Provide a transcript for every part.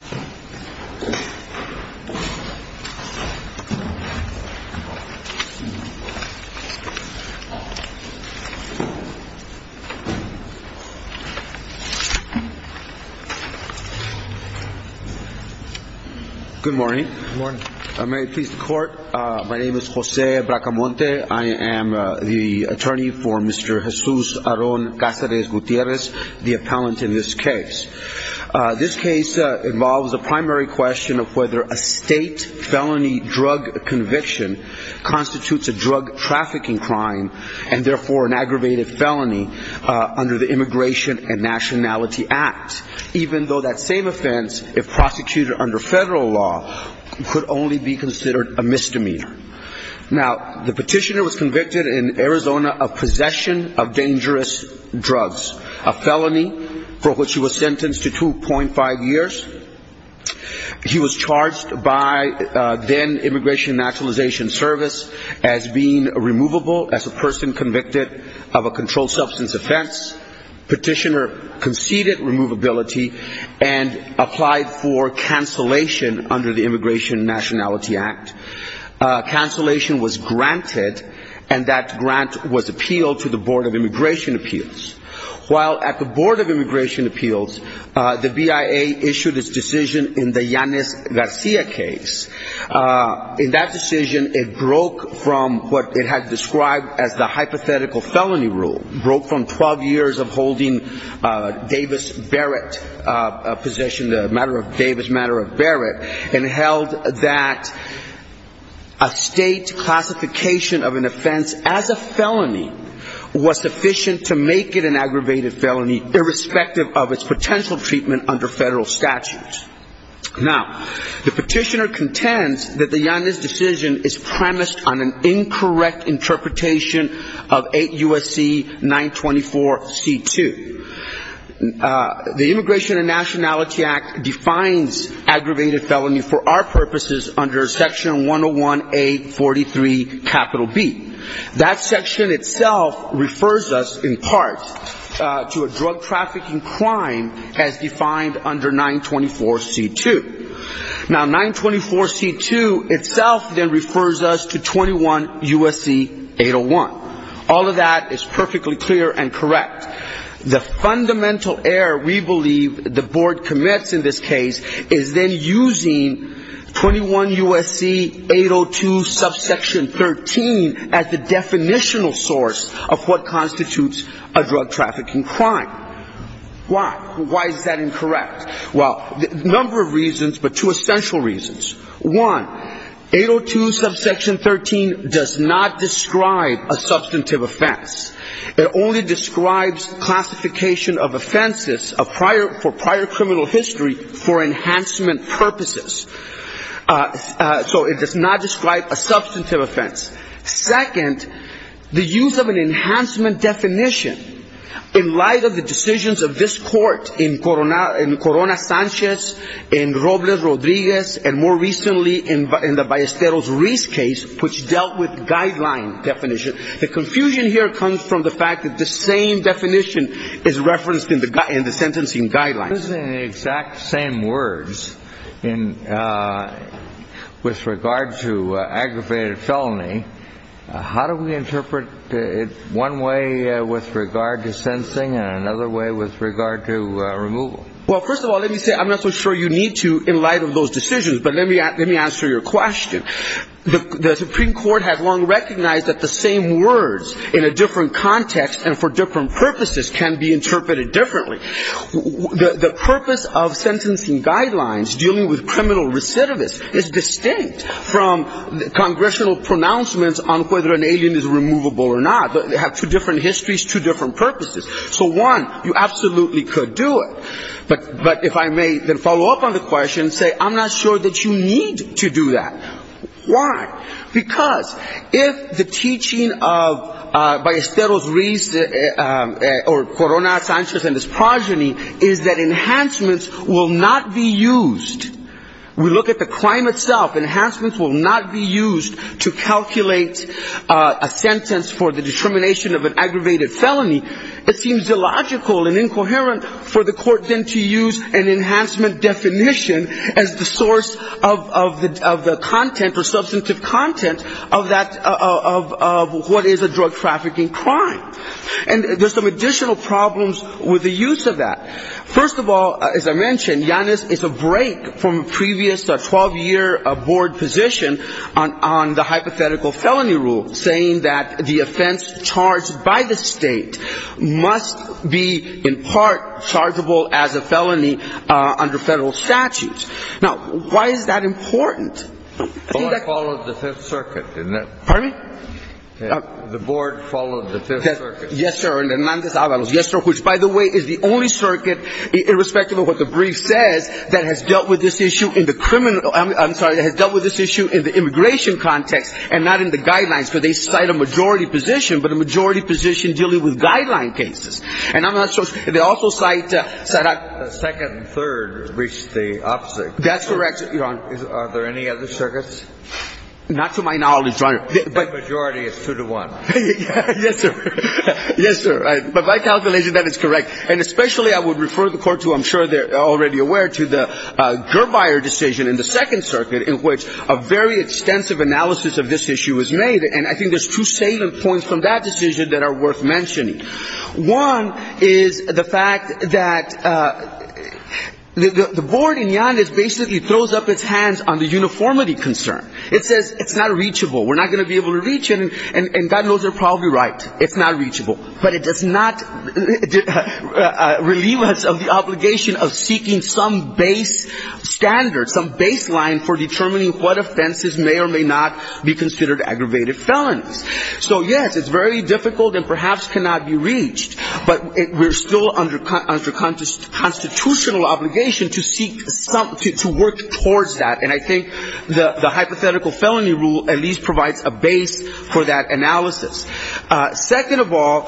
Good morning. May it please the court, my name is Jose Bracamonte. I am the attorney for Mr. Jesus Aaron Cazarez-Gutierrez, the appellant in this case. This case involves a primary question of whether a state felony drug conviction constitutes a drug trafficking crime and therefore an aggravated felony under the Immigration and Nationality Act, even though that same offense, if prosecuted under federal law, could only be considered a misdemeanor. Now, the petitioner was convicted in Arizona of possession of dangerous drugs, a felony for which he was sentenced to 2.5 years. He was charged by then Immigration Naturalization Service as being removable as a person convicted of a controlled substance offense. Petitioner conceded removability and applied for cancellation under the Immigration Nationality Act. Cancellation was granted and that grant was appealed to the Board of Immigration Appeals. While at the Board of Immigration Appeals, the BIA issued its decision in the Yanis Garcia case. In that decision, it broke from what it had described as the hypothetical felony rule. It broke from 12 years of holding Davis Barrett, a position, the Davis matter of Barrett and held that a state classification of an offense as a felony was sufficient to make it an aggravated felony irrespective of its potential treatment under federal statutes. Now, the petitioner intends that the Yanis decision is premised on an incorrect interpretation of 8 U.S.C. 924C2. The Immigration and Nationality Act defines aggravated felony for our purposes under section 101A43 capital B. That section itself refers us in part to a drug trafficking crime as defined under 924C2. Now, 924C2 itself then refers us to 21 U.S.C. 801. All of that is perfectly clear and correct. The fundamental error we believe the Board commits in this case is then using 21 U.S.C. 802 subsection 13 as the definitional source of what constitutes a drug trafficking crime. Why? Why is that incorrect? Well, a number of reasons, but two essential reasons. One, 802 subsection 13 does not describe a substantive offense. It only describes classification of offenses for prior criminal history for enhancement purposes. So it does not in light of the decisions of this court in Corona Sanchez, in Robles Rodriguez, and more recently in the Ballesteros-Rees case, which dealt with guideline definition. The confusion here comes from the fact that the same definition is referenced in the sentencing guideline. Using the exact same words with regard to aggravated felony, how do we interpret it one way with regard to sensing and another way with regard to removal? Well, first of all, let me say I'm not so sure you need to in light of those decisions, but let me answer your question. The Supreme Court has long recognized that the purpose of sentencing guidelines dealing with criminal recidivists is distinct from congressional pronouncements on whether an alien is removable or not. They have two different histories, two different purposes. So one, you absolutely could do it. But if I may then follow up on the question, say I'm not sure that you need to do that. Why? Because if the teaching of Ballesteros-Rees or Corona Sanchez and his progeny is that enhancements will not be used, we look at the crime itself, enhancements will not be used to calculate a sentence for the determination of an aggravated felony, it seems illogical and incoherent for the court then to use an enhancement definition as the content or substantive content of what is a drug trafficking crime. And there's some additional problems with the use of that. First of all, as I mentioned, Yanis is a break from a previous 12-year board position on the hypothetical felony rule, saying that the offense charged by the state must be in part chargeable as a felony under federal statutes. Now, why is that important? The board followed the Fifth Circuit, didn't it? Pardon me? The board followed the Fifth Circuit. Yes, sir. And Hernandez-Avalos. Yes, sir. Which, by the way, is the only circuit, irrespective of what the brief says, that has dealt with this issue in the criminal – I'm sorry, that has dealt with this issue in the immigration context and not in the guidelines, where they cite a majority position, but a majority position dealing with guideline cases. And I'm not sure – they also cite – But that second and third reach the opposite. That's correct, Your Honor. Are there any other circuits? Not to my knowledge, Your Honor. The majority is two to one. Yes, sir. Yes, sir. But by calculation, that is correct. And especially I would refer the Court to – I'm sure they're already aware – to the Gerbeier decision in the Second Circuit, in which a very extensive analysis of this issue was made. And I think there's two salient points from that decision that are worth mentioning. One is the fact that the Board in Yandex basically throws up its hands on the uniformity concern. It says it's not reachable. We're not going to be able to reach it. And God knows they're probably right. It's not reachable. But it does not relieve us of the obligation of seeking some base standard, some baseline for determining what offenses may or may not be considered aggravated felonies. So, yes, it's very difficult and perhaps cannot be reached. But we're still under constitutional obligation to seek – to work towards that. And I think the hypothetical felony rule at least provides a base for that analysis. Second of all,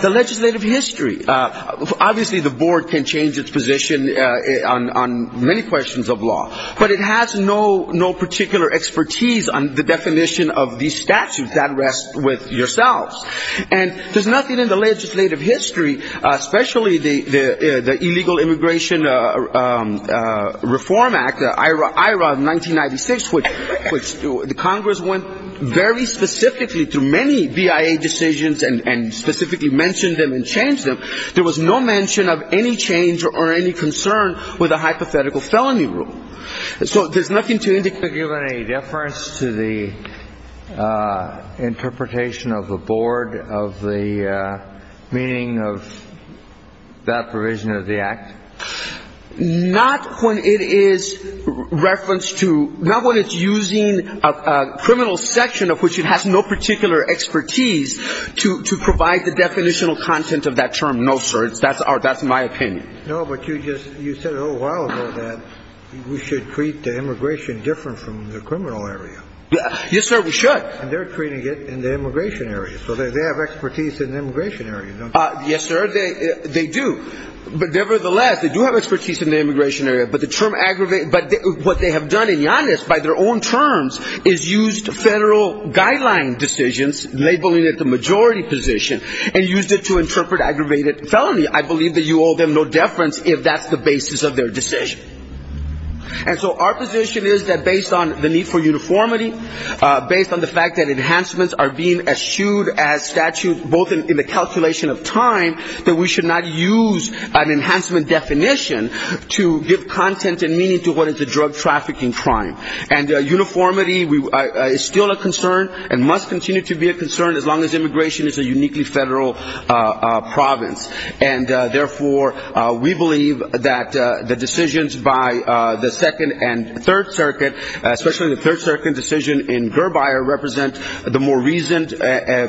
the legislative history. Obviously, the Board can change its position on many questions of law. But it has no particular expertise on the definition of these statutes. That rests with yourselves. And there's nothing in the legislative history, especially the Illegal Immigration Reform Act, the IRA 1996, which the Congress went very specifically through many BIA decisions and specifically mentioned them and changed them. There was no mention of any change or any concern with the hypothetical felony rule. And so there's nothing to indicate – Do you have any deference to the interpretation of the Board of the meaning of that provision of the Act? Not when it is referenced to – not when it's using a criminal section of which it has no particular expertise to provide the definitional content of that term, no, sir. That's my opinion. No, but you just – you said a little while ago that we should treat the immigration different from the criminal area. Yes, sir, we should. And they're treating it in the immigration area. So they have expertise in the immigration area, don't they? Yes, sir, they do. But nevertheless, they do have expertise in the immigration area. But the term aggravated – but what they have done in Yannis by their own terms is used federal guideline decisions, labeling it the majority position, and used it to reference if that's the basis of their decision. And so our position is that based on the need for uniformity, based on the fact that enhancements are being eschewed as statute, both in the calculation of time, that we should not use an enhancement definition to give content and meaning to what is a drug trafficking crime. And uniformity is still a concern and must We believe that the decisions by the Second and Third Circuit, especially the Third Circuit decision in Gerbeyer, represent the more reasoned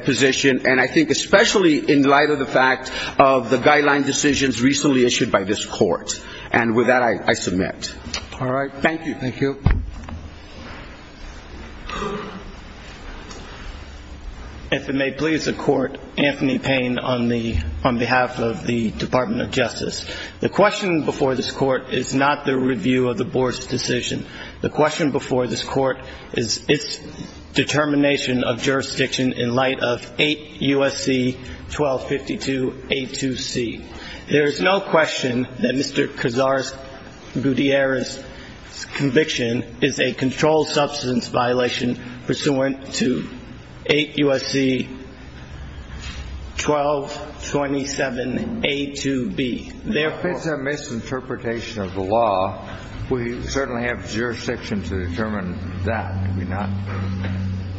position, and I think especially in light of the fact of the guideline decisions recently issued by this court. And with that, I submit. Thank you. If it may please the court, Anthony Payne on behalf of the Department of Justice. The question before this court is not the review of the board's decision. The question before this court is its determination of jurisdiction in light of 8 U.S.C. 1252 A2C. There is no question that Mr. Cazares-Gutierrez's conviction is a controlled substance violation pursuant to 8 U.S.C. 1227 A2B. Therefore If it's a misinterpretation of the law, we certainly have jurisdiction to determine that, do we not?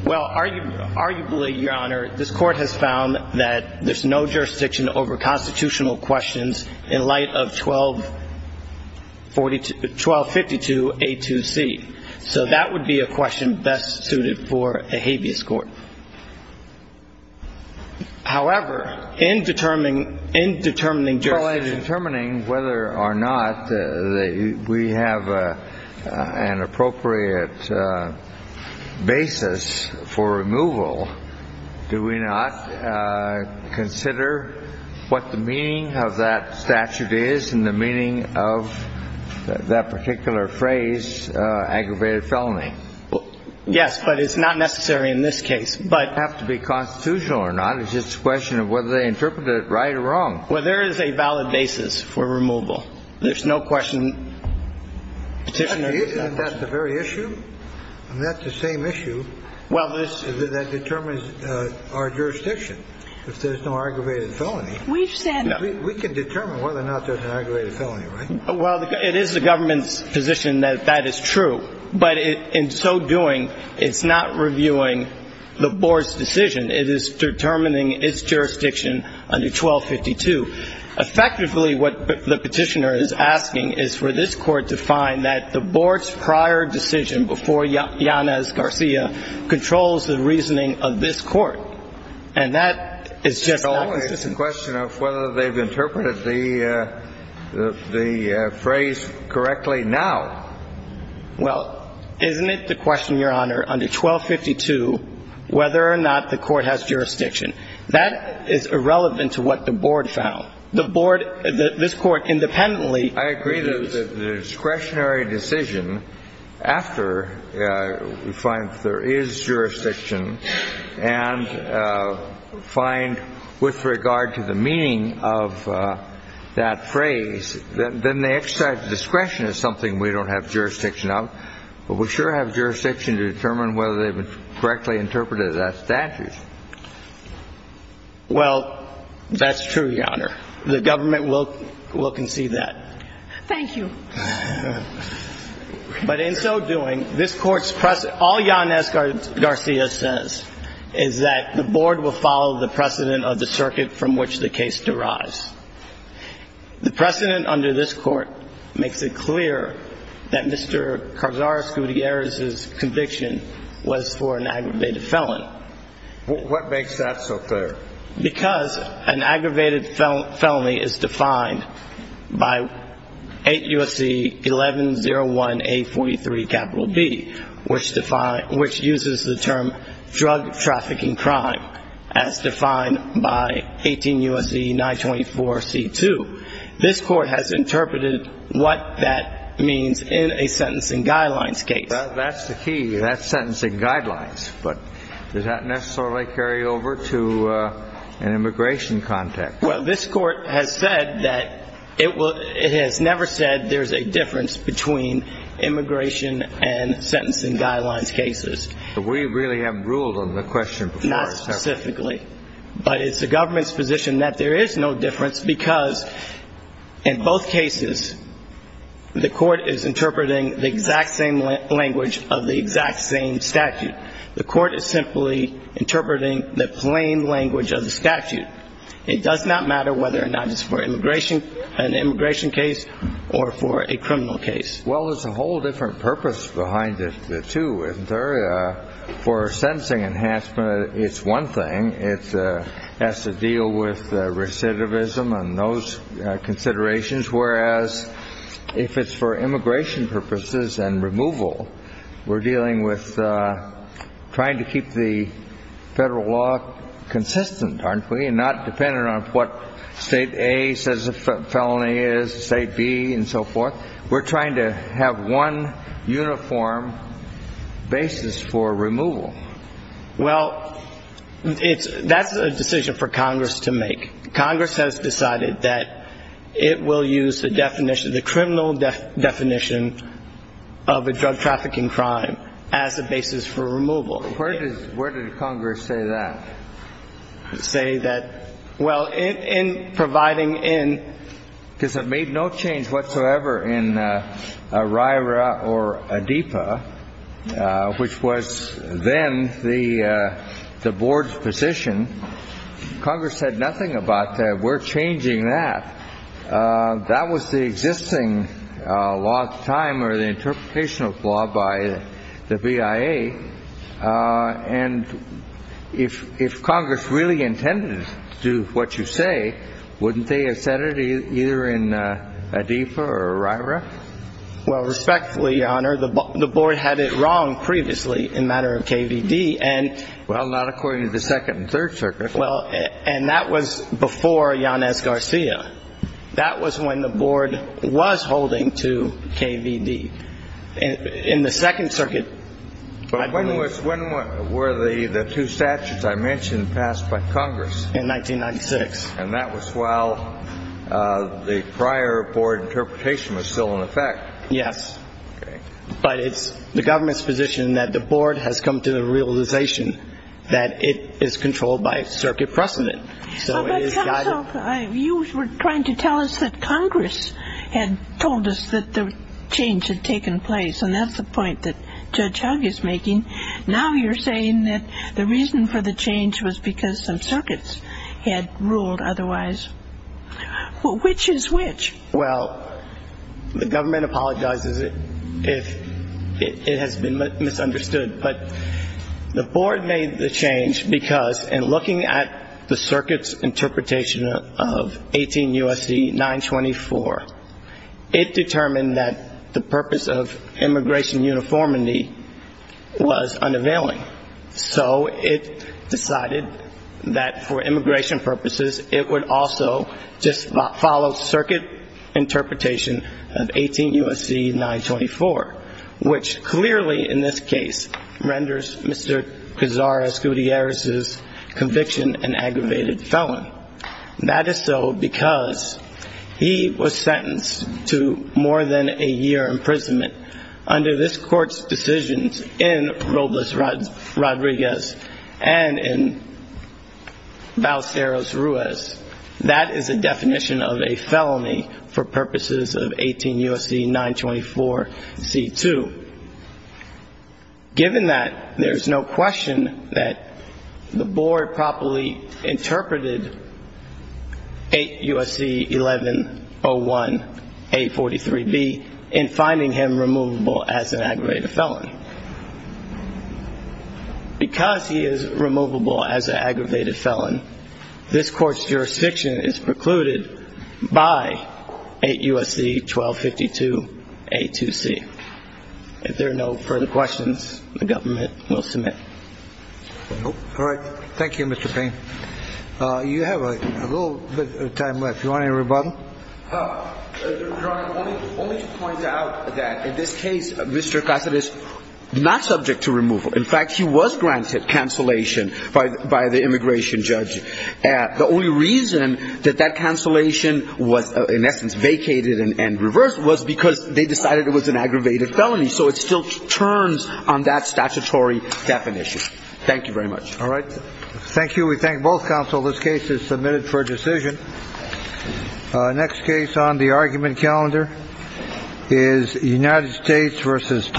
Well, arguably, Your Honor, this court has found that there's no jurisdiction over constitutional questions in light of 1252 A2C. So that would be a question best suited for a habeas court. However, in determining jurisdiction whether or not we have an appropriate basis for removal, do we not consider what the meaning of that statute is and the meaning of that particular phrase, aggravated felony? Yes, but it's not necessary in this case. But it doesn't have to be constitutional or not. It's just a question of whether they interpreted it right or wrong. Well, there is a valid basis for removal. There's no question petitioners have. And that's the very issue? And that's the same issue that determines our jurisdiction. If there's no aggravated felony, we can determine whether or not there's an aggravated felony, right? Well, it is the government's position that that is true. But in so doing, it's not reviewing the board's decision. It is determining its jurisdiction under 1252. Effectively, what the petitioner is asking is for this court to find that the board's prior decision before Yanez Garcia controls the reasoning of this court. And that is just not consistent. It's a question of whether they've interpreted the phrase correctly now. Well, isn't it the question, Your Honor, under 1252, whether or not the court has jurisdiction? That is irrelevant to what the board found. The board, this court, independently, I agree that the discretionary decision after we find that there is jurisdiction and find with regard to the meaning of that phrase, then they exercise discretion as something we don't have jurisdiction of. But we sure have jurisdiction to determine whether they've correctly interpreted that statute. Well, that's true, Your Honor. The government will concede that. Thank you. But in so doing, this court's precedent, all Yanez Garcia says is that the board will follow the precedent of the circuit from which the case derives. The precedent under this court makes it clear that Mr. Carzar Scuderi's conviction was for an aggravated felon. What makes that so fair? Because an aggravated felony is defined by 8 U.S.C. 1101A43 B, which uses the term drug trafficking crime as defined by 18 U.S.C. 924C2. This court has interpreted what that means in a sentencing guidelines case. That's the key. That's sentencing guidelines. But does that necessarily carry over to an immigration context? Well, this court has said that it has never said there's a difference between immigration and sentencing guidelines cases. But we really haven't ruled on the question before. Not specifically. But it's the government's position that there is no difference because in both cases, the court is interpreting the exact same language of the exact same statute. The court is simply interpreting the plain language of the statute. It does not matter whether or not it's for an immigration case or for a criminal case. Well, there's a whole different purpose behind it, too, isn't there? For a sentencing enhancement, it's one thing. It has to deal with recidivism and those considerations. Whereas if it's for immigration purposes and removal, we're dealing with trying to keep the federal law consistent, aren't we? And not dependent on what State A says a felony is, State B and so forth. We're trying to have one uniform basis for removal. Well, that's a decision for Congress to make. Congress has decided that it will use the criminal definition of a drug trafficking crime as a basis for removal. Where did Congress say that? Well, in providing in, because it made no change whatsoever in RIRA or ADEPA, which was then the board's position, Congress said nothing about that. We're changing that. That was the existing law at the time or the interpretation of law by the BIA. And if Congress really intended to do what you say, wouldn't they have said it either in ADEPA or RIRA? Well, respectfully, Your Honor, the board had it wrong previously in matter of KVD. Well, not according to the Second and Third Circuit. Well, and that was before Yanez Garcia. That was when the board was holding to KVD. In the Second Circuit, I believe. But when were the two statutes I mentioned passed by Congress? In 1996. And that was while the prior board interpretation was still in effect. Yes. Okay. But it's the government's position that the board has come to the realization that it is controlled by circuit precedent. You were trying to tell us that Congress had told us that the change had taken place, and that's the point that Judge Hugg is making. Now you're saying that the reason for the change was because some circuits had ruled otherwise. Which is which? Well, the government apologizes if it has been misunderstood. But the board made the change because in looking at the circuit's interpretation of 18 U.S.C. 924, it determined that the purpose of immigration uniformity was unavailing. So it decided that for immigration purposes, it would also just follow circuit interpretation of 18 U.S.C. 924, which clearly in this case renders Mr. Cazares Gutierrez's conviction an aggravated felon. That is so because he was sentenced to more than a year imprisonment under this court's decisions in Robles Rodriguez and in Valceros Ruiz. That is a definition of a felony for purposes of 18 U.S.C. 924C2. Given that, there's no question that the board properly interpreted 8 U.S.C. 1101A43B in finding him removable as an aggravated felon. Because he is removable as an aggravated felon, this court's jurisdiction is precluded by 8 U.S.C. 1252A2C. If there are no further questions, the government will submit. All right. Thank you, Mr. Payne. You have a little bit of time left. Do you want any rebuttal? Your Honor, let me point out that in this case, Mr. Cazares is not subject to removal. In fact, he was granted cancellation by the immigration judge. The only reason that that cancellation was in essence vacated and reversed was because they decided it was an aggravated felony. So it still turns on that statutory definition. Thank you very much. All right. Thank you. We thank both counsel. This case is submitted for decision. Next case on the argument calendar is United States versus Thomas.